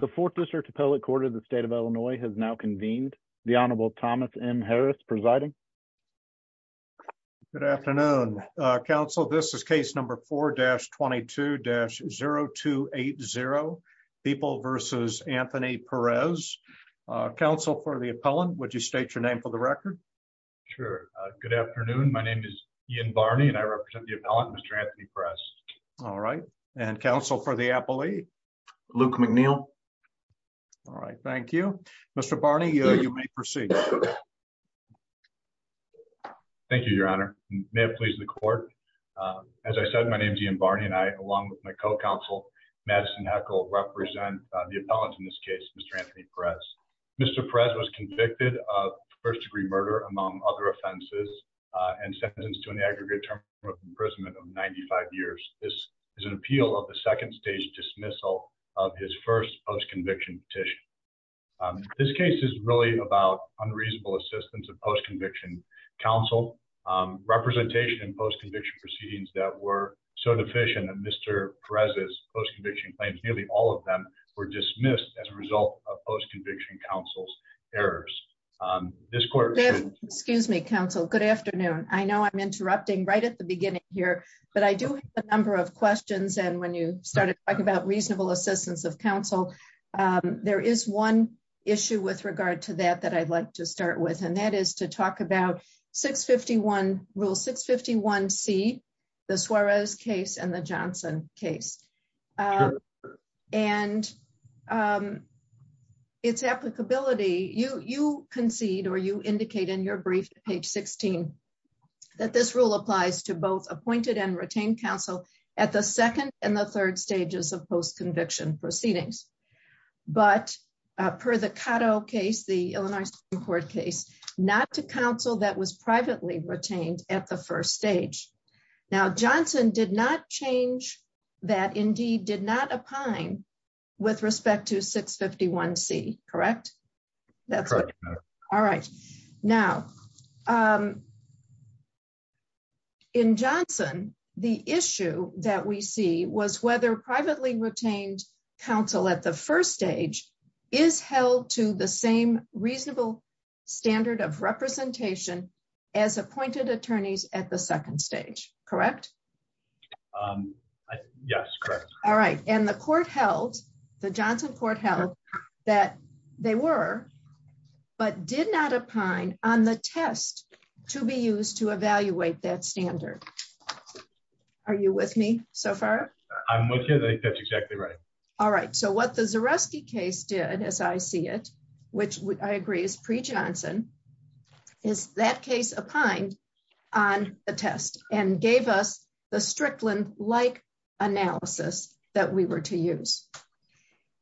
The fourth district appellate court of the state of Illinois has now convened. The Honorable Thomas M. Harris presiding. Good afternoon, Council. This is case number 4-22-0280. People v. Anthony Perez. Council for the appellant, would you state your name for the record? Sure. Good afternoon. My name is Ian Barney and I represent the appellant, Mr. Anthony Perez. All right. And Council for the appellee? Luke McNeil. All right. Thank you. Mr. Barney, you may proceed. Thank you, Your Honor. May it please the court. As I said, my name is Ian Barney and I, along with my co-counsel, Madison Heckle, represent the appellant in this case, Mr. Anthony Perez. Mr. Perez was convicted of first-degree murder, among other offenses, and sentenced to an aggregate term of imprisonment of 95 years. This is an appeal of the second-stage dismissal of his first post-conviction petition. This case is really about unreasonable assistance of post-conviction counsel. Representation in post-conviction proceedings that were so deficient in Mr. Perez's post-conviction claims, nearly all of them were dismissed as a result of post-conviction counsel's errors. Excuse me, counsel. Good afternoon. I know I'm interrupting right at the beginning here, but I do have a number of questions. And when you started talking about reasonable assistance of counsel, there is one issue with regard to that that I'd like to start with. And that is to talk about Rule 651C, the Suarez case and the Johnson case, and its applicability. You concede, or you indicate in your brief, page 16, that this rule applies to both appointed and retained counsel at the second and the third stages of post-conviction proceedings. But per the Cotto case, the Illinois Supreme Court case, not to counsel that was privately retained at the first stage. Now, Johnson did not change that, indeed, did not opine with respect to 651C, correct? Correct. All right. Now, in Johnson, the issue that we see was whether privately retained counsel at the first stage is held to the same reasonable standard of representation as appointed attorneys at the second stage, correct? Yes, correct. All right. And the court held, the Johnson court held, that they were, but did not opine on the test to be used to evaluate that standard. Are you with me so far? I'm with you. That's exactly right. All right. So what the Zareski case did, as I see it, which I agree is pre-Johnson, is that case opined on the test and gave us the Strickland-like analysis that we were to use.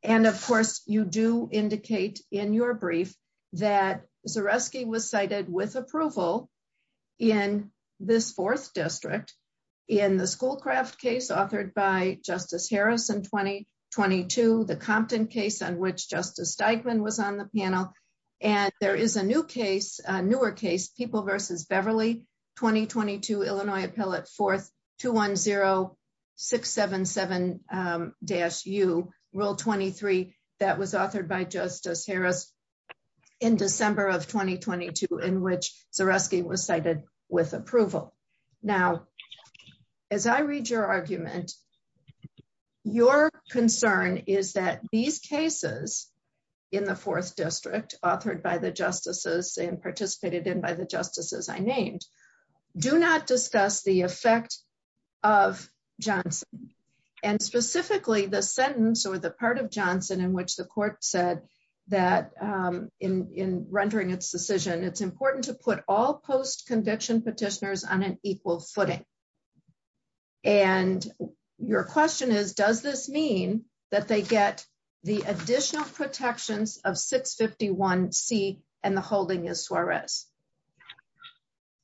And, of course, you do indicate in your brief that Zareski was cited with approval in this fourth district in the Schoolcraft case authored by Justice Harris in 2022, the Compton case on which Justice Steigman was on the panel. And there is a new case, a newer case, People v. Beverly, 2022, Illinois Appellate, 4th, 210-677-U, Rule 23, that was authored by Justice Harris in December of 2022, in which Zareski was cited with approval. Now, as I read your argument, your concern is that these cases in the fourth district, authored by the justices and participated in by the justices I named, do not discuss the effect of Johnson. And specifically, the sentence or the part of Johnson in which the court said that in rendering its decision, it's important to put all post-conviction petitioners on an equal footing. And your question is, does this mean that they get the additional protections of 651C and the holding is Suarez?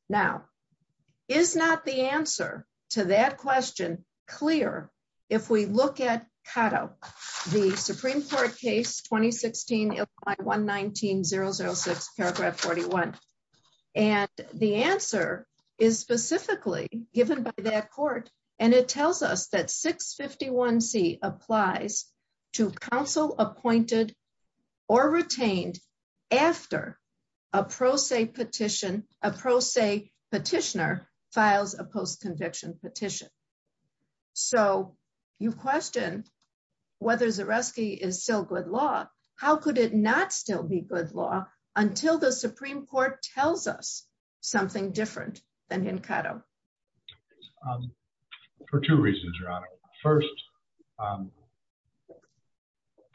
Now, is not the answer to that question clear if we look at CATO, the Supreme Court case 2016, Illinois 119-006, paragraph 41? And the answer is specifically given by that court, and it tells us that 651C applies to counsel appointed or retained after a pro se petition, a pro se petitioner files a post-conviction petition. So you question whether Zareski is still good law. How could it not still be good law until the Supreme Court tells us something different than in CATO? For two reasons, Your Honor. First,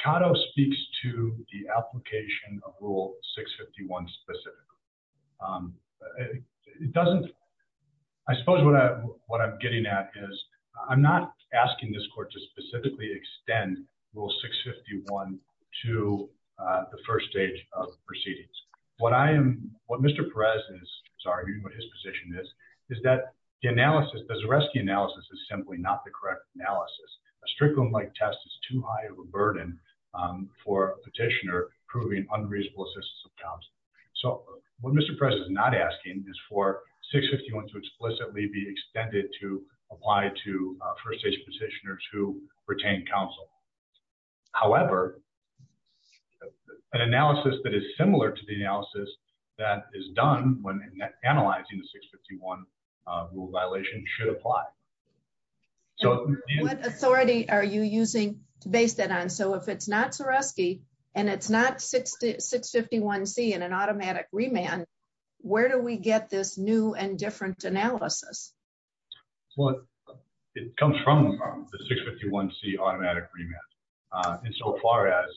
CATO speaks to the application of Rule 651 specifically. It doesn't, I suppose what I'm getting at is I'm not asking this court to specifically extend Rule 651 to the first stage of proceedings. What I am, what Mr. Perez is, sorry, what his position is, is that the analysis, the Zareski analysis is simply not the correct analysis. A Strickland-like test is too high of a burden for a petitioner proving unreasonable assistance of counsel. What Mr. Perez is not asking is for 651 to explicitly be extended to apply to first stage petitioners who retain counsel. However, an analysis that is similar to the analysis that is done when analyzing the 651 rule violation should apply. So what authority are you using to base that on? So if it's not Zareski and it's not 651C in an automatic remand, where do we get this new and different analysis? Well, it comes from the 651C automatic remand. And so far as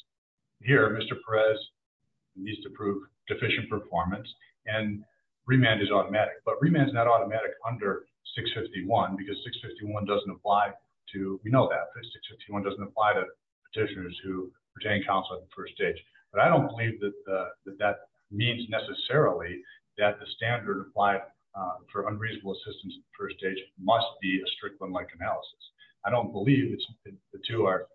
here, Mr. Perez needs to prove deficient performance and remand is automatic. But remand is not automatic under 651 because 651 doesn't apply to, we know that, 651 doesn't apply to petitioners who retain counsel at the first stage. But I don't believe that that means necessarily that the standard applied for unreasonable assistance at the first stage must be a Strickland-like analysis. I don't believe the two are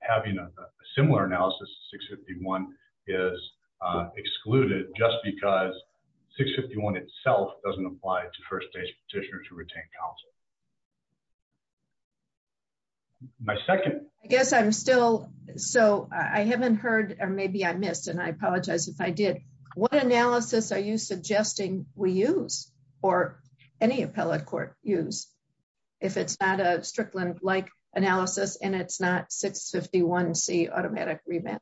having a similar analysis. 651 is excluded just because 651 itself doesn't apply to first stage petitioners who retain counsel. My second. I guess I'm still, so I haven't heard, or maybe I missed and I apologize if I did. What analysis are you suggesting we use or any appellate court use if it's not a Strickland-like analysis and it's not 651C automatic remand?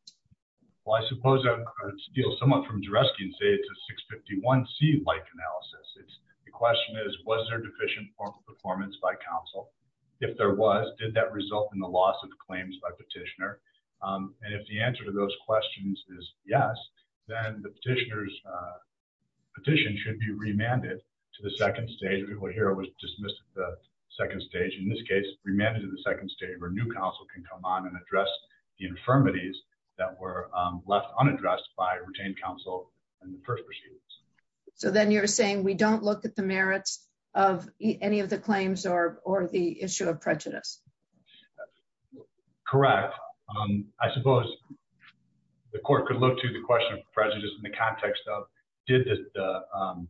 Well, I suppose I could steal someone from Jouresky and say it's a 651C-like analysis. The question is, was there deficient performance by counsel? If there was, did that result in the loss of claims by petitioner? And if the answer to those questions is yes, then the petitioner's petition should be remanded to the second stage. And what you will hear was dismissed at the second stage. In this case, remanded to the second stage where new counsel can come on and address the infirmities that were left unaddressed by retained counsel in the first proceedings. So then you're saying we don't look at the merits of any of the claims or the issue of prejudice? Correct. I suppose the court could look to the question of prejudice in the context of, did the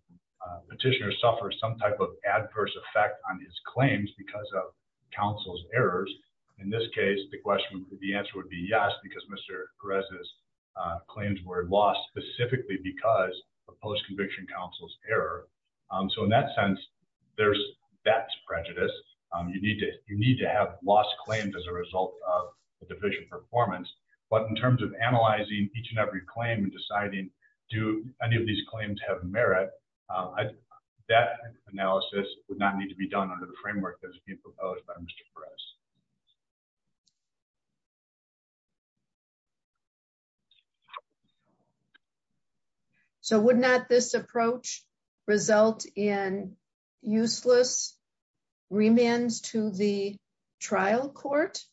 petitioner suffer some type of adverse effect on his claims because of counsel's errors? In this case, the answer would be yes, because Mr. Perez's claims were lost specifically because of post-conviction counsel's error. So in that sense, that's prejudice. You need to have lost claims as a result of a deficient performance. But in terms of analyzing each and every claim and deciding, do any of these claims have merit, that analysis would not need to be done under the framework that's being proposed by Mr. Perez. So would not this approach result in useless remands to the trial court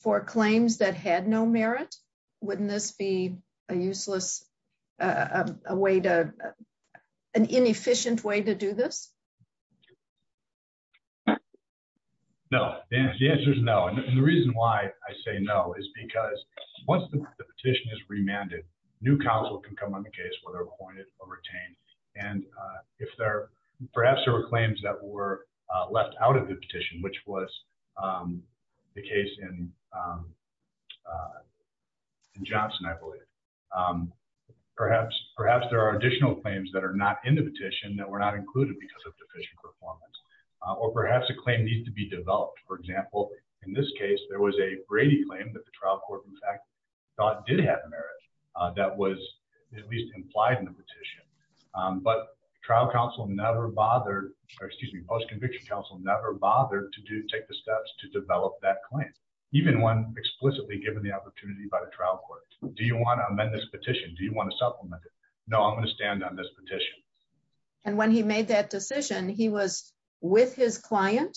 for claims that had no merit? Wouldn't this be a useless way to, an inefficient way to do this? No. The answer is no. And the reason why I say no is because once the petition is remanded, new counsel can come on the case whether appointed or retained. And if there, perhaps there were claims that were left out of the petition, which was the case in Johnson, I believe. Perhaps there are additional claims that are not in the petition that were not included because of deficient performance. Or perhaps a claim needs to be developed. For example, in this case, there was a Brady claim that the trial court in fact thought did have merit that was at least implied in the petition. But trial counsel never bothered, or excuse me, post-conviction counsel never bothered to take the steps to develop that claim. Even when explicitly given the opportunity by the trial court, do you want to amend this petition? Do you want to supplement it? No, I'm going to stand on this petition. And when he made that decision, he was with his client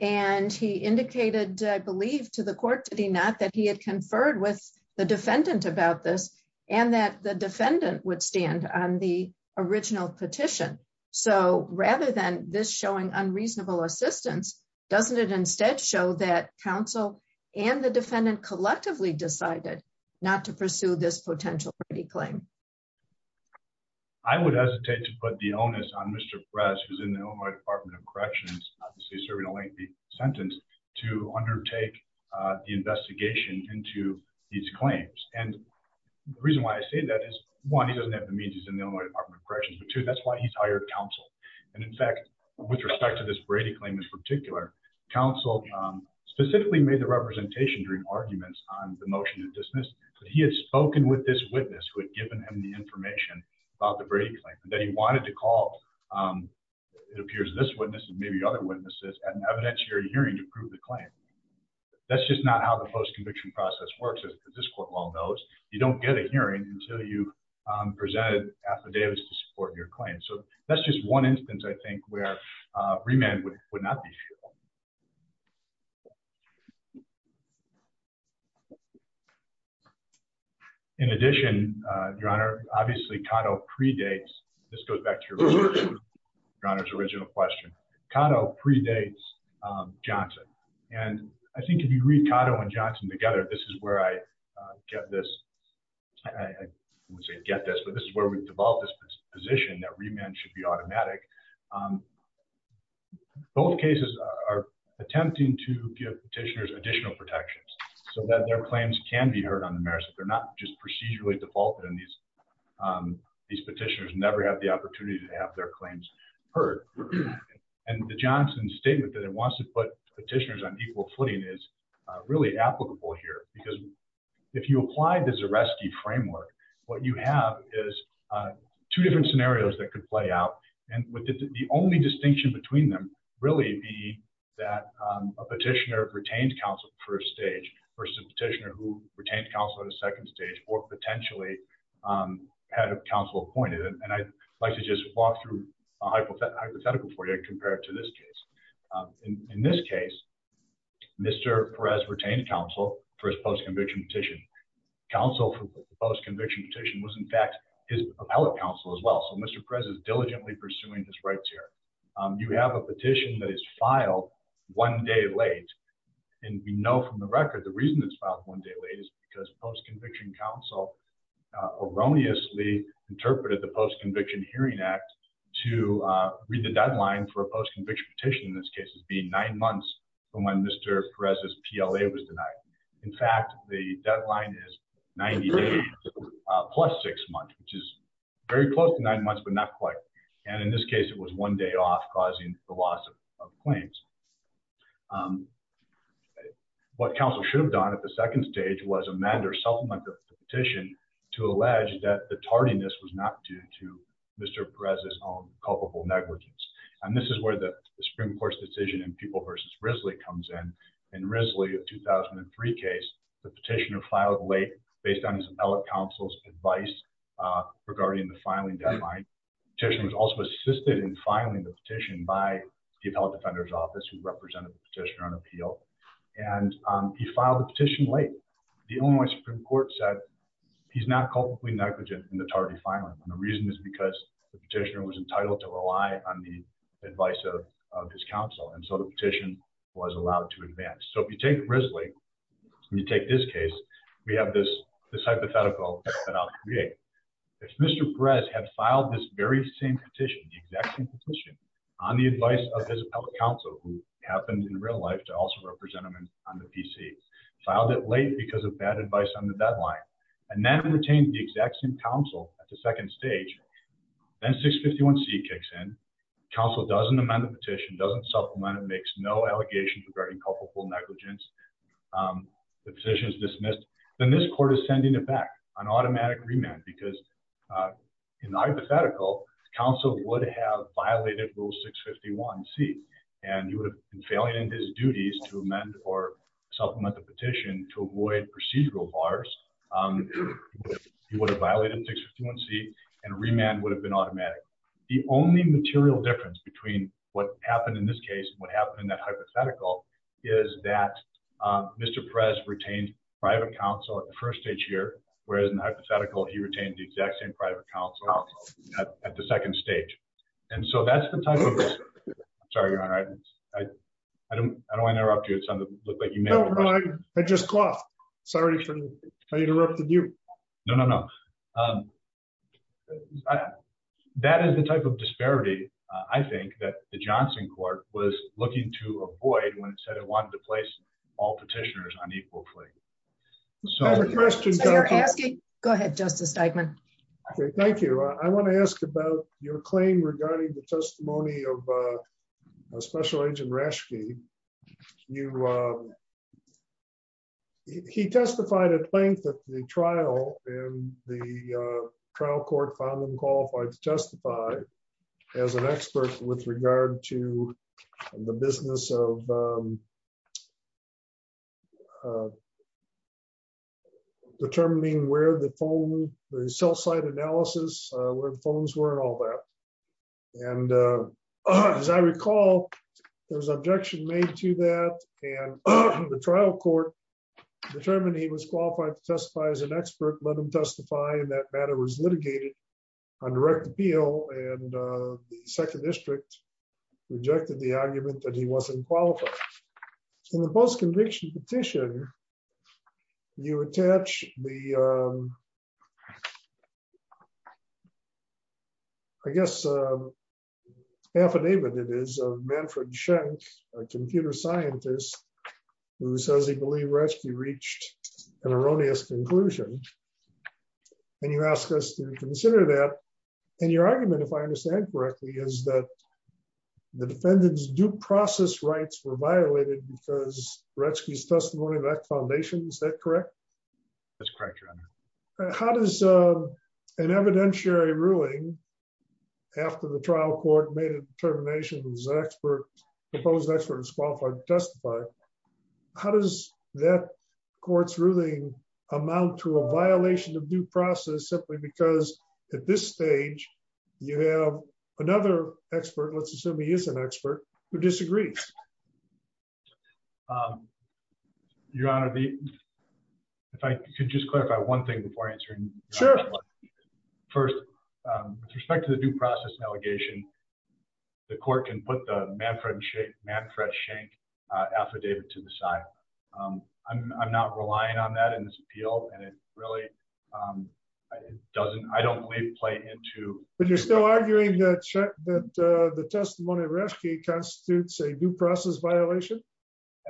and he indicated, I believe to the court, did he not, that he had conferred with the defendant about this and that the defendant would stand on the original petition. So rather than this showing unreasonable assistance, doesn't it instead show that counsel and the defendant collectively decided not to pursue this potential Brady claim? I would hesitate to put the onus on Mr. Press, who's in the Illinois Department of Corrections, obviously serving a lengthy sentence, to undertake the investigation into these claims. And the reason why I say that is, one, he doesn't have the means, he's in the Illinois Department of Corrections, but two, that's why he's hired counsel. And in fact, with respect to this Brady claim in particular, counsel specifically made the representation during arguments on the motion to dismiss that he had spoken with this witness who had given him the information about the Brady claim, that he wanted to call, it appears this witness and maybe other witnesses, at an evidentiary hearing to prove the claim. That's just not how the post-conviction process works, as this court well knows. You don't get a hearing until you've presented affidavits to support your claim. So that's just one instance, I think, where remand would not be feasible. In addition, Your Honor, obviously Cotto predates, this goes back to Your Honor's original question, Cotto predates Johnson. And I think if you read Cotto and Johnson together, this is where I get this, I wouldn't say get this, but this is where we've developed this position that remand should be automatic. Both cases are attempting to give petitioners additional protections so that their claims can be heard on the merits. They're not just procedurally defaulted and these petitioners never have the opportunity to have their claims heard. And the Johnson statement that it wants to put petitioners on equal footing is really applicable here. Because if you apply the Zareski framework, what you have is two different scenarios that could play out. And the only distinction between them really be that a petitioner retained counsel first stage versus a petitioner who retained counsel at a second stage or potentially had counsel appointed. And I'd like to just walk through a hypothetical for you and compare it to this case. In this case, Mr. Perez retained counsel for his post-conviction petition. Counsel for the post-conviction petition was in fact his appellate counsel as well. So Mr. Perez is diligently pursuing his rights here. You have a petition that is filed one day late. And we know from the record, the reason it's filed one day late is because post-conviction counsel erroneously interpreted the post-conviction hearing act to read the deadline for a post-conviction petition. In this case, it would be nine months from when Mr. Perez's PLA was denied. In fact, the deadline is 90 days plus six months, which is very close to nine months, but not quite. And in this case, it was one day off causing the loss of claims. What counsel should have done at the second stage was amend or supplement the petition to allege that the tardiness was not due to Mr. Perez's own culpable negligence. And this is where the Supreme Court's decision in People v. Risley comes in. In Risley, a 2003 case, the petitioner filed late based on his appellate counsel's advice regarding the filing deadline. The petitioner was also assisted in filing the petition by the appellate defender's office who represented the petitioner on appeal. And he filed the petition late. The Illinois Supreme Court said he's not culpably negligent in the tardy filing. And the reason is because the petitioner was entitled to rely on the advice of his counsel. And so the petition was allowed to advance. So if you take Risley and you take this case, we have this hypothetical that I'll create. If Mr. Perez had filed this very same petition, the exact same petition, on the advice of his appellate counsel, who happened in real life to also represent him on the PC, filed it late because of bad advice on the deadline, and then retained the exact same counsel at the second stage, then 651C kicks in, counsel doesn't amend the petition, doesn't supplement it, makes no allegations regarding culpable negligence, the petition is dismissed, then this court is sending it back, an automatic remand, because in the hypothetical, counsel would have violated Rule 651C, and he would have been failing in his duties to amend or supplement the petition to avoid procedural bars. He would have violated 651C, and remand would have been automatic. The only material difference between what happened in this case and what happened in that hypothetical is that Mr. Perez retained private counsel at the first stage here, whereas in the hypothetical, he retained the exact same private counsel at the second stage. And so that's the type of... I'm sorry, Your Honor, I don't want to interrupt you. I just coughed. Sorry if I interrupted you. No, no, no. That is the type of disparity, I think, that the Johnson court was looking to avoid when it said it wanted to place all petitioners on equal plea. I have a question, Justice... Go ahead, Justice Steigman. Okay, thank you. I want to ask about your claim regarding the testimony of Special Agent Raschke. He testified at length at the trial, and the trial court found him qualified to testify as an expert with regard to the business of determining where the cell site analysis, where the phones were, and all that. And as I recall, there was an objection made to that, and the trial court determined he was qualified to testify as an expert, let him testify, and that matter was litigated on direct appeal, and the second district rejected the argument that he wasn't qualified. In the post-conviction petition, you attach the, I guess, affidavit it is of Manfred Schenk, a computer scientist, who says he believes Raschke reached an erroneous conclusion, and you ask us to consider that, and your argument, if I understand correctly, is that the defendant's due process rights were violated because Raschke's testimony lacked foundation, is that correct? That's correct, Your Honor. How does an evidentiary ruling, after the trial court made a determination he was an expert, a proposed expert, and was qualified to testify, how does that court's ruling amount to a violation of due process, simply because at this stage, you have another expert, let's assume he is an expert, who disagrees? Your Honor, if I could just clarify one thing before answering. Sure. First, with respect to the due process allegation, the court can put the Manfred Schenk affidavit to the side. I'm not relying on that in this appeal, and it really doesn't, I don't believe, play into... But you're still arguing that the testimony of Raschke constitutes a due process violation?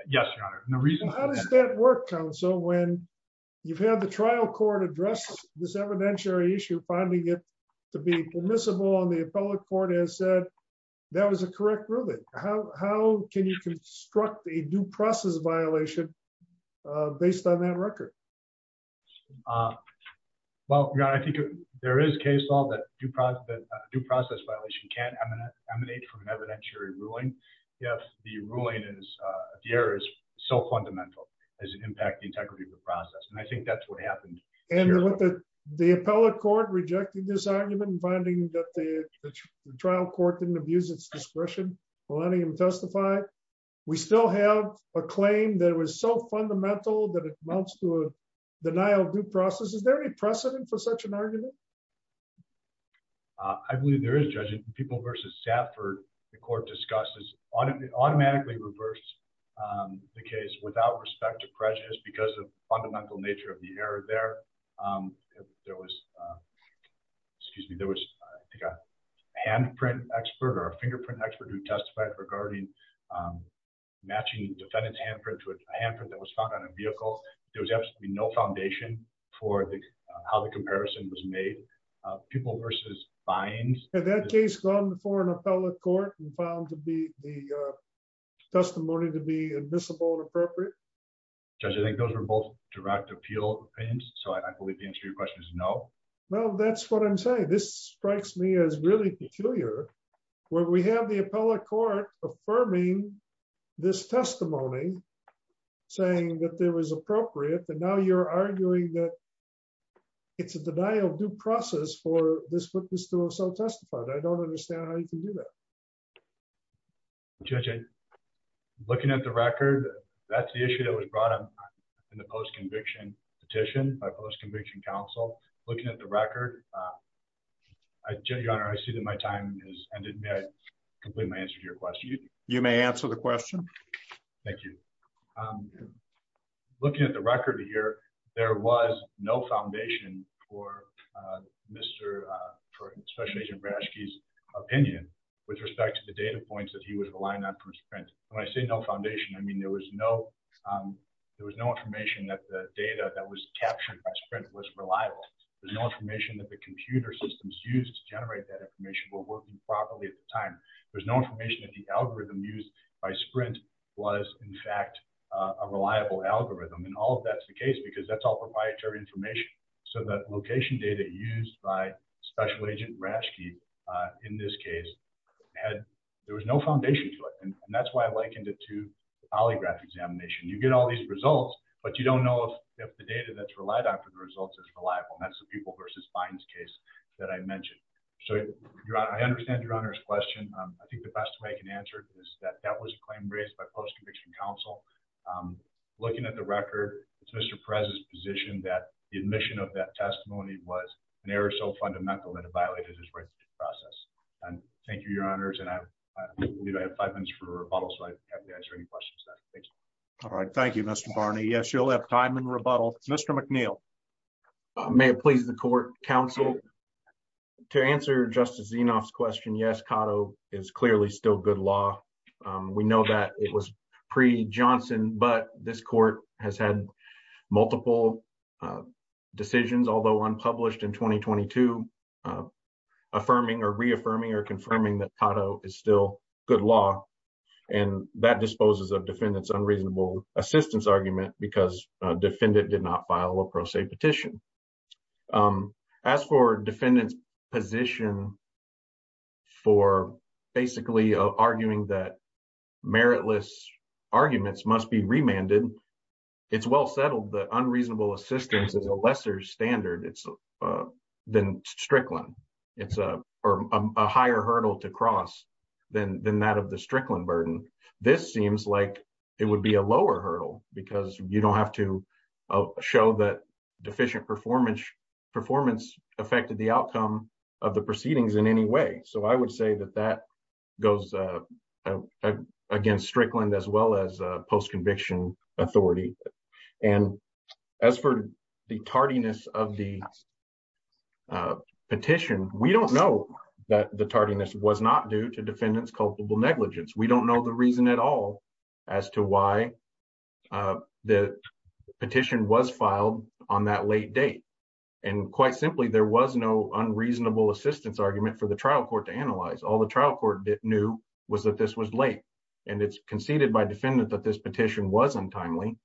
Yes, Your Honor. How does that work, counsel, when you've had the trial court address this evidentiary issue, finding it to be permissible, and the appellate court has said that was a correct ruling? How can you construct a due process violation based on that record? Well, Your Honor, I think there is case law that a due process violation can emanate from an evidentiary ruling, if the ruling is, the error is so fundamental as it impacts the integrity of the process, and I think that's what happened. And the appellate court rejected this argument, finding that the trial court didn't abuse its discretion for letting him testify. We still have a claim that was so fundamental that it amounts to a denial of due process. Is there any precedent for such an argument? I believe there is, Judge. In People v. Stafford, the court automatically reversed the case without respect to prejudice because of the fundamental nature of the error there. There was, excuse me, there was, I think, a handprint expert or a fingerprint expert who testified regarding matching defendant's handprint to a handprint that was found on a vehicle. There was absolutely no foundation for how the comparison was made. People v. Fines. Had that case gone before an appellate court and found the testimony to be admissible and appropriate? Judge, I think those are both direct appeal opinions, so I believe the answer to your question is no. Well, that's what I'm saying. This strikes me as really peculiar, where we have the appellate court affirming this testimony, saying that it was appropriate, but now you're arguing that it's a denial of due process for this witness to have self-testified. I don't understand how you can do that. Judge, looking at the record, that's the issue that was brought up in the post-conviction petition by post-conviction counsel. Looking at the record, Judge O'Connor, I see that my time has ended. May I complete my answer to your question? You may answer the question. Thank you. Looking at the record here, there was no foundation for Special Agent Braschke's opinion with respect to the data points that he was relying on for SPRINT. When I say no foundation, I mean there was no information that the data that was captured by SPRINT was reliable. There's no information that the computer systems used to generate that information were working properly at the time. There's no information that the algorithm used by SPRINT was, in fact, a reliable algorithm, and all of that's the case because that's all proprietary information. The location data used by Special Agent Braschke in this case, there was no foundation to it. That's why I likened it to the polygraph examination. You get all these results, but you don't know if the data that's relied on for the results is reliable. That's the People v. Fines case that I mentioned. I understand Your Honor's question. I think the best way I can answer it is that that was a claim raised by post-conviction counsel. Looking at the record, it's Mr. Perez's position that the admission of that testimony was an error so fundamental that it violated his right to process. Thank you, Your Honors. I believe I have five minutes for rebuttal, so I'd be happy to answer any questions. Thank you. All right. Thank you, Mr. Barney. Yes, you'll have time in rebuttal. Mr. McNeil. May it please the court, counsel. To answer Justice Zinoff's question, yes, CADO is clearly still good law. We know that it was pre-Johnson, but this court has had multiple decisions, although unpublished in 2022, affirming or reaffirming or confirming that CADO is still good law. And that disposes of defendant's unreasonable assistance argument because defendant did not file a pro se petition. As for defendant's position for basically arguing that meritless arguments must be remanded, it's well settled. The unreasonable assistance is a lesser standard than Strickland. It's a higher hurdle to cross than that of the Strickland burden. This seems like it would be a lower hurdle because you don't have to show that deficient performance affected the outcome of the proceedings in any way. So I would say that that goes against Strickland as well as post-conviction authority. And as for the tardiness of the petition, we don't know that the tardiness was not due to defendant's culpable negligence. There's no good reason at all as to why the petition was filed on that late date. And quite simply, there was no unreasonable assistance argument for the trial court to analyze. All the trial court knew was that this was late and it's conceded by defendant that this petition wasn't timely.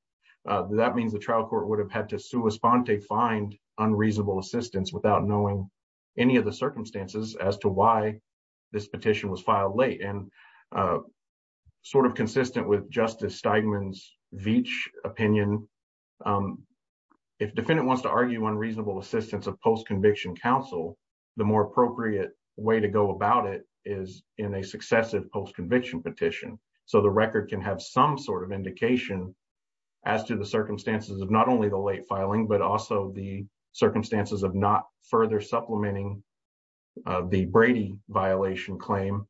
That means the trial court would have had to sua sponte find unreasonable assistance without knowing any of the circumstances as to why this petition was filed late. And sort of consistent with Justice Steigman's Veatch opinion, if defendant wants to argue unreasonable assistance of post-conviction counsel, the more appropriate way to go about it is in a successive post-conviction petition. So the record can have some sort of indication as to the circumstances of not only the late filing, but also the circumstances of not further supplementing the Brady violation claim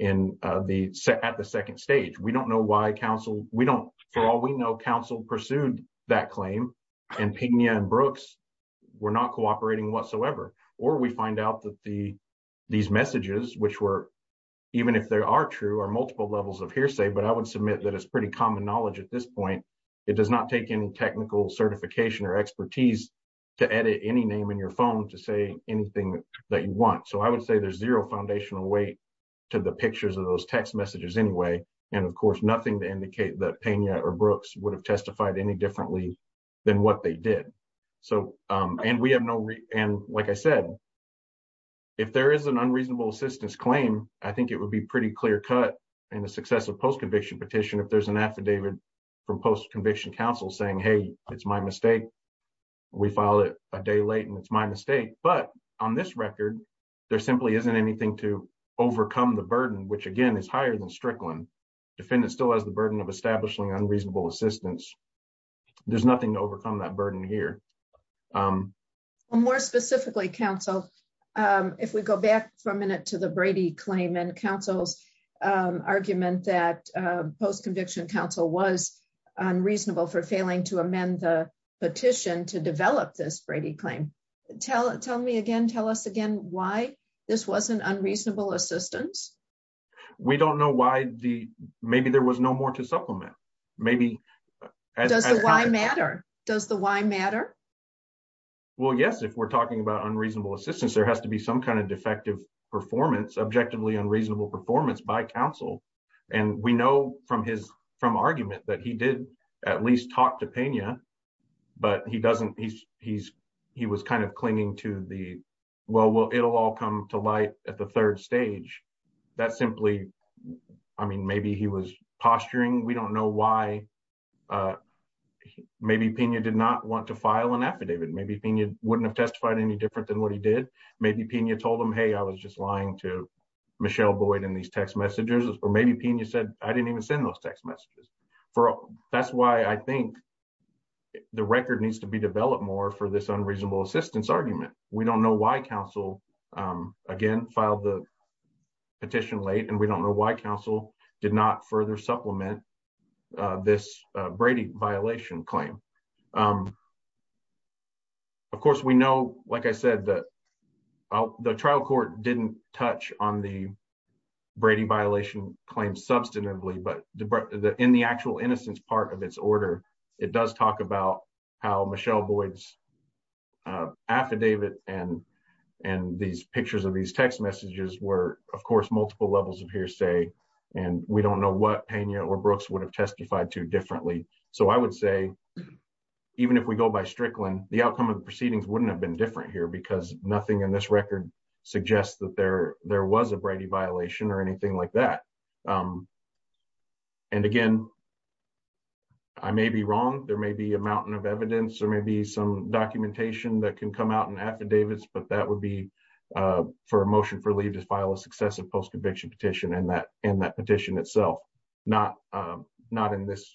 at the second stage. We don't know why counsel, for all we know, counsel pursued that claim and Pena and Brooks were not cooperating whatsoever. Or we find out that these messages, which were, even if they are true, are multiple levels of hearsay, but I would submit that it's pretty common knowledge at this point. It does not take any technical certification or expertise to edit any name in your phone to say anything that you want. So I would say there's zero foundational weight to the pictures of those text messages anyway. And of course, nothing to indicate that Pena or Brooks would have testified any differently than what they did. So, and we have no, and like I said, if there is an unreasonable assistance claim, I think it would be pretty clear cut in a successive post-conviction petition if there's an affidavit from post-conviction counsel saying, hey, it's my mistake. We filed it a day late and it's my mistake. But on this record, there simply isn't anything to overcome the burden, which again is higher than Strickland. Defendant still has the burden of establishing unreasonable assistance. There's nothing to overcome that burden here. More specifically, counsel, if we go back for a minute to the Brady claim and counsel's argument that post-conviction counsel was unreasonable for failing to amend the petition to develop this Brady claim. Tell me again, tell us again why this wasn't unreasonable assistance. We don't know why the, maybe there was no more to supplement. Maybe. Does the why matter? Does the why matter? Well, yes, if we're talking about unreasonable assistance, there has to be some kind of defective performance, objectively unreasonable performance by counsel. And we know from his, from argument that he did at least talk to Pena, but he doesn't, he's, he's, he was kind of clinging to the, well, well, it'll all come to light at the third stage. That's simply, I mean, maybe he was posturing. We don't know why. Maybe Pena did not want to file an affidavit. Maybe Pena wouldn't have testified any different than what he did. Maybe Pena told him, hey, I was just lying to Michelle Boyd in these text messages, or maybe Pena said, I didn't even send those text messages. That's why I think the record needs to be developed more for this unreasonable assistance argument. We don't know why counsel, again, filed the petition late, and we don't know why counsel did not further supplement this Brady violation claim. Of course, we know, like I said, that the trial court didn't touch on the Brady violation claim substantively, but in the actual innocence part of its order, it does talk about how Michelle Boyd's affidavit and, and these pictures of these text messages were, of course, multiple levels of hearsay, and we don't know what Pena or Brooks would have testified to differently. So I would say, even if we go by Strickland, the outcome of the proceedings wouldn't have been different here because nothing in this record suggests that there, there was a Brady violation or anything like that. And again, I may be wrong, there may be a mountain of evidence or maybe some documentation that can come out in affidavits, but that would be for a motion for leave to file a successive post-conviction petition and that, and that petition itself, not, not in this,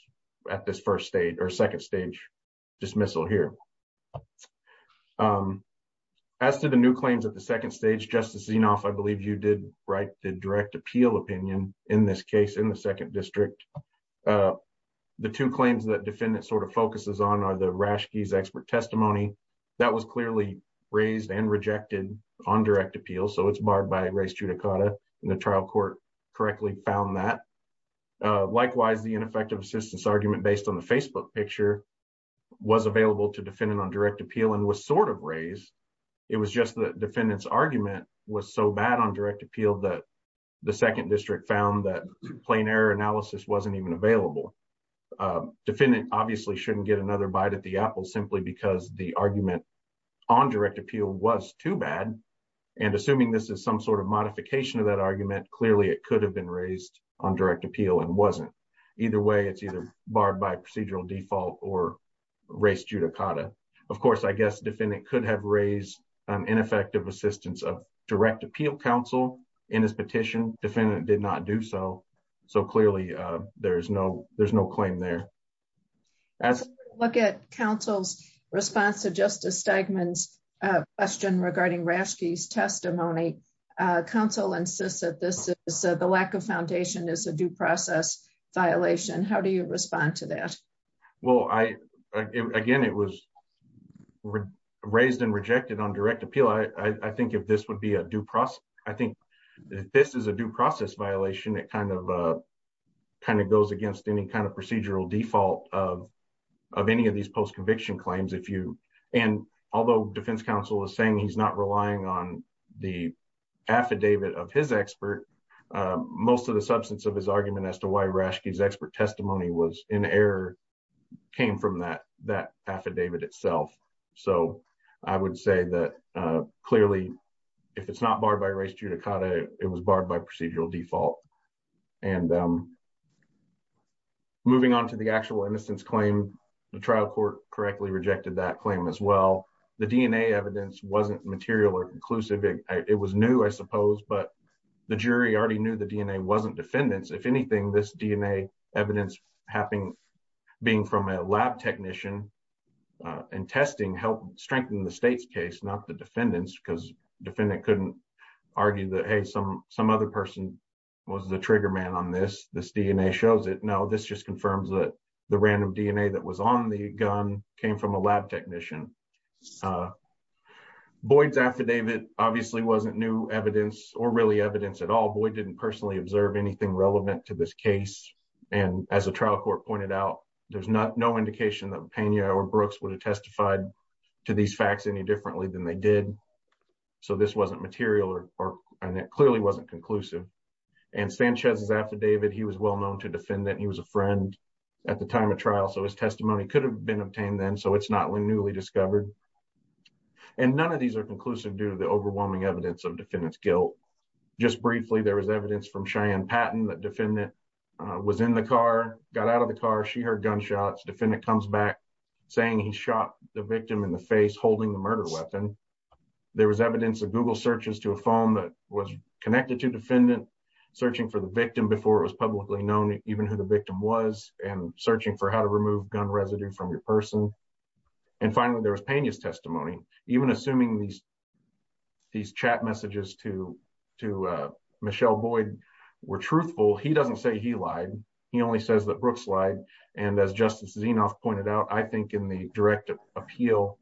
at this first stage or second stage dismissal here. As to the new claims at the second stage, Justice Zinoff, I believe you did write the direct appeal opinion in this case in the second district. The two claims that defendant sort of focuses on are the Rashke's expert testimony that was clearly raised and rejected on direct appeal. So it's barred by race judicata and the trial court correctly found that. Likewise, the ineffective assistance argument based on the Facebook picture was available to defendant on direct appeal and was sort of raised. It was just the defendant's argument was so bad on direct appeal that the second district found that plain error analysis wasn't even available. Defendant obviously shouldn't get another bite at the apple simply because the argument on direct appeal was too bad. And assuming this is some sort of modification of that argument, clearly it could have been raised on direct appeal and wasn't. Either way, it's either barred by procedural default or race judicata. Of course, I guess defendant could have raised ineffective assistance of direct appeal counsel in his petition. Defendant did not do so. So clearly there is no, there's no claim there. Look at counsel's response to Justice Stegman's question regarding Rashke's testimony. Counsel insists that this is the lack of foundation is a due process violation. How do you respond to that? Well, I again, it was raised and rejected on direct appeal. I think if this would be a due process, I think this is a due process violation. It kind of kind of goes against any kind of procedural default of of any of these post conviction claims. If you and although defense counsel is saying he's not relying on the affidavit of his expert, most of the substance of his argument as to why Rashke's expert testimony was in error came from that that affidavit itself. So I would say that clearly, if it's not barred by race judicata, it was barred by procedural default. And moving on to the actual innocence claim, the trial court correctly rejected that claim as well. The DNA evidence wasn't material or conclusive. It was new, I suppose, but the jury already knew the DNA wasn't defendants. If anything, this DNA evidence happening, being from a lab technician and testing helped strengthen the state's case, not the defendants, because defendant couldn't argue that, hey, some some other person was the trigger man on this. This DNA shows it now. This just confirms that the random DNA that was on the gun came from a lab technician. Boyd's affidavit obviously wasn't new evidence or really evidence at all. Boyd didn't personally observe anything relevant to this case. And as a trial court pointed out, there's not no indication that Pena or Brooks would have testified to these facts any differently than they did. So this wasn't material or and it clearly wasn't conclusive. And Sanchez's affidavit, he was well known to defend that he was a friend at the time of trial. So his testimony could have been obtained then. So it's not newly discovered. And none of these are conclusive due to the overwhelming evidence of defendant's guilt. Just briefly, there was evidence from Cheyenne Patton that defendant was in the car, got out of the car. She heard gunshots. Defendant comes back saying he shot the victim in the face holding the murder weapon. There was evidence of Google searches to a phone that was connected to defendant, searching for the victim before it was publicly known even who the victim was and searching for how to remove gun residue from your person. And finally, there was Pena's testimony, even assuming these these chat messages to to Michelle Boyd were truthful. He doesn't say he lied. He only says that Brooks lied. And as Justice Zinoff pointed out, I think in the direct appeal,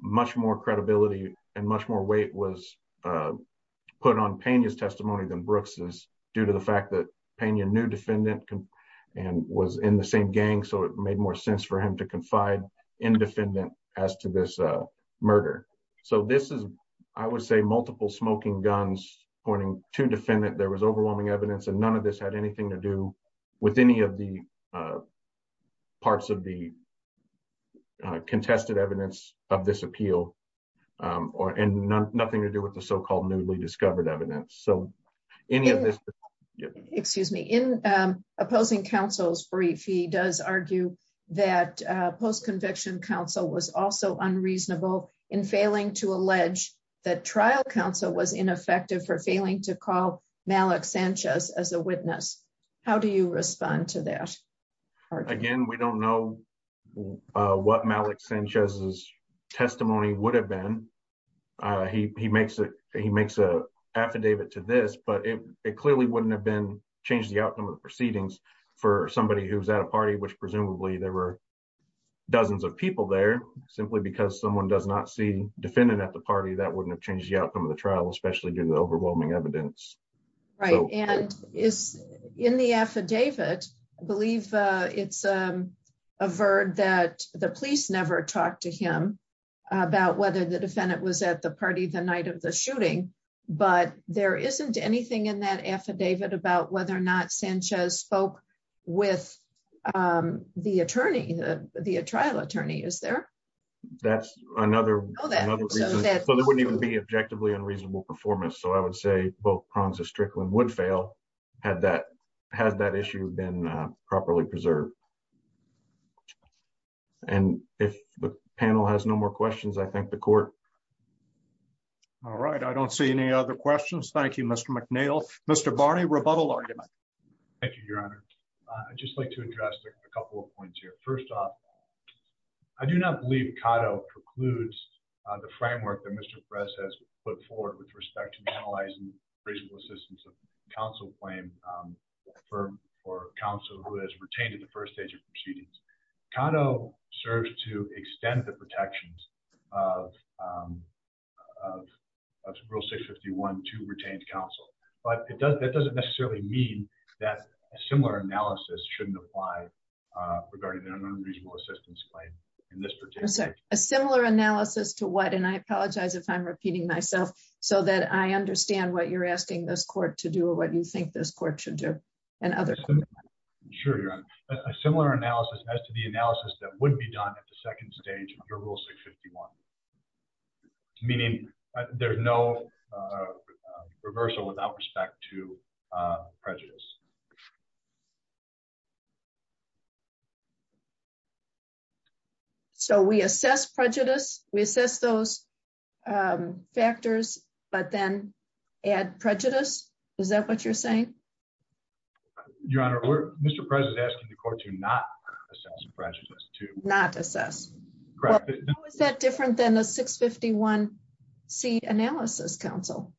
much more credibility and much more weight was put on Pena's testimony than Brooks's due to the fact that Pena knew defendant and was in the same gang. So it made more sense for him to confide in defendant as to this murder. So this is, I would say, multiple smoking guns pointing to defendant. There was overwhelming evidence and none of this had anything to do with any of the parts of the contested evidence of this appeal or and nothing to do with the so-called newly discovered evidence. Excuse me. In opposing counsel's brief, he does argue that post-conviction counsel was also unreasonable in failing to allege that trial counsel was ineffective for failing to call Malik Sanchez as a witness. How do you respond to that? Again, we don't know what Malik Sanchez's testimony would have been. He makes an affidavit to this, but it clearly wouldn't have changed the outcome of the proceedings for somebody who was at a party, which presumably there were dozens of people there. Simply because someone does not see defendant at the party, that wouldn't have changed the outcome of the trial, especially given the overwhelming evidence. Right. And in the affidavit, I believe it's averred that the police never talked to him about whether the defendant was at the party the night of the shooting. But there isn't anything in that affidavit about whether or not Sanchez spoke with the attorney, the trial attorney, is there? That's another reason. So there wouldn't even be objectively unreasonable performance. So I would say both prongs of Strickland would fail had that issue been properly preserved. And if the panel has no more questions, I thank the court. All right. I don't see any other questions. Thank you, Mr. McNeil. Mr. Barney, rebuttal argument. Thank you, Your Honor. I'd just like to address a couple of points here. First off, I do not believe Cato precludes the framework that Mr. Perez has put forward with respect to analyzing reasonable assistance of counsel claim for counsel who has retained in the first stage of proceedings. Cato serves to extend the protections of Rule 651 to retained counsel. But that doesn't necessarily mean that a similar analysis shouldn't apply regarding an unreasonable assistance claim in this particular case. A similar analysis to what? And I apologize if I'm repeating myself so that I understand what you're asking this court to do or what you think this court should do. Sure, Your Honor. A similar analysis as to the analysis that would be done at the second stage under Rule 651, meaning there's no reversal without respect to prejudice. So we assess prejudice. We assess those factors, but then add prejudice. Is that what you're saying? Your Honor, Mr. Perez is asking the court to not assess prejudice. Not assess? Correct. How is that different than the 651C analysis counsel?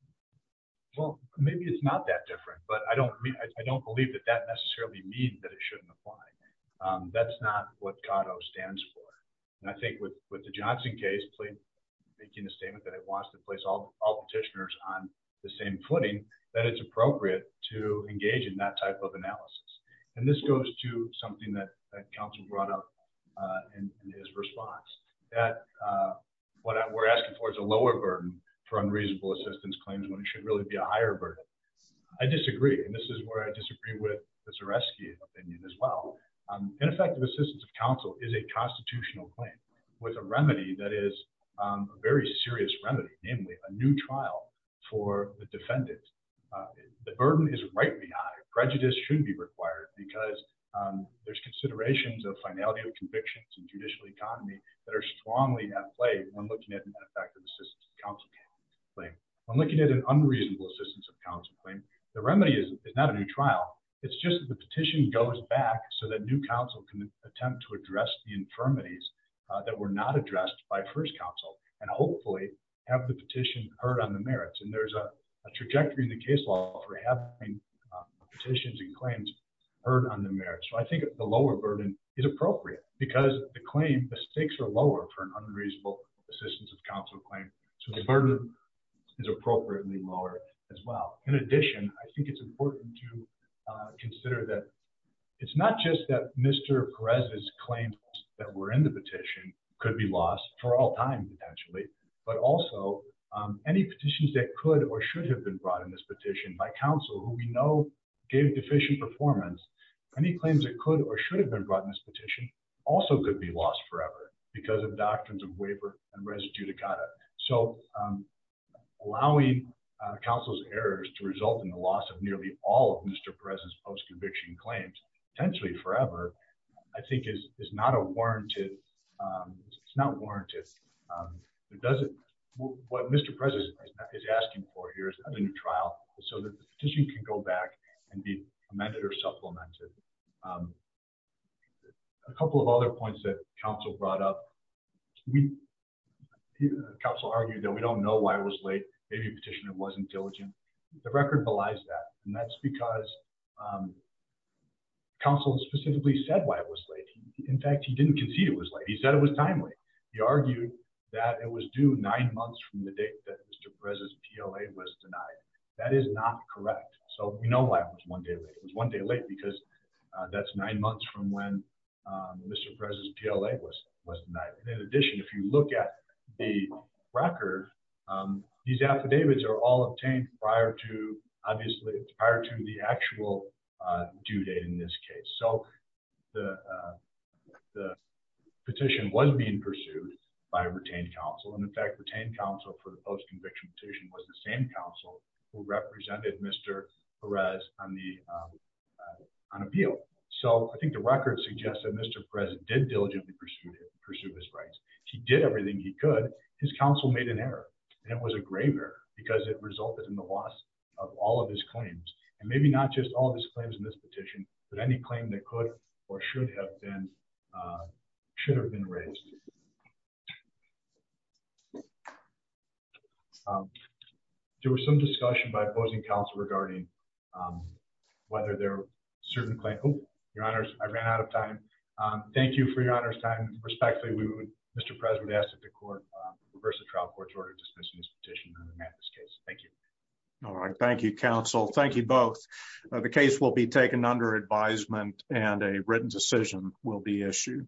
Well, maybe it's not that different, but I don't believe that that necessarily means that it shouldn't apply. That's not what Cato stands for. And I think with the Johnson case, making a statement that it wants to place all petitioners on the same footing, that it's appropriate to engage in that type of analysis. And this goes to something that counsel brought up in his response, that what we're asking for is a lower burden for unreasonable assistance claims when it should really be a higher burden. I disagree, and this is where I disagree with the Zareski opinion as well. Ineffective assistance of counsel is a constitutional claim with a remedy that is a very serious remedy, namely a new trial for the defendant. The burden is rightly high. Prejudice shouldn't be required because there's considerations of finality of convictions and judicial economy that are strongly at play when looking at an ineffective assistance of counsel claim. When looking at an unreasonable assistance of counsel claim, the remedy is not a new trial. It's just the petition goes back so that new counsel can attempt to address the infirmities that were not addressed by first counsel and hopefully have the petition heard on the merits. And there's a trajectory in the case law for having petitions and claims heard on the merits. So I think the lower burden is appropriate because the claim, the stakes are lower for an unreasonable assistance of counsel claim. So the burden is appropriately lower as well. In addition, I think it's important to consider that it's not just that Mr. Perez's claims that were in the petition could be lost for all time, potentially. But also any petitions that could or should have been brought in this petition by counsel who we know gave deficient performance, any claims that could or should have been brought in this petition also could be lost forever because of doctrines of waiver and res judicata. So allowing counsel's errors to result in the loss of nearly all of Mr. Perez's post-conviction claims, potentially forever, I think is not a warranted, it's not warranted. What Mr. Perez is asking for here is not a new trial, so that the petition can go back and be amended or supplemented. A couple of other points that counsel brought up, counsel argued that we don't know why it was late, maybe the petitioner wasn't diligent. The record belies that. And that's because counsel specifically said why it was late. In fact, he didn't concede it was late, he said it was timely. He argued that it was due nine months from the date that Mr. Perez's PLA was denied. That is not correct. So we know why it was one day late. It was one day late because that's nine months from when Mr. Perez's PLA was denied. In addition, if you look at the record, these affidavits are all obtained prior to the actual due date in this case. So the petition was being pursued by a retained counsel. And in fact, retained counsel for the post-conviction petition was the same counsel who represented Mr. Perez on the appeal. So I think the record suggests that Mr. Perez did diligently pursue his rights. He did everything he could. His counsel made an error and it was a grave error because it resulted in the loss of all of his claims. And maybe not just all of his claims in this petition, but any claim that could or should have been, should have been raised. There was some discussion by opposing counsel regarding whether there were certain claims. Oh, your honors, I ran out of time. Thank you for your honor's time. Respectfully, Mr. Perez would ask that the court reverse the trial court's order to dismiss this petition and amend this case. Thank you. All right. Thank you, counsel. Thank you both. The case will be taken under advisement and a written decision will be issued.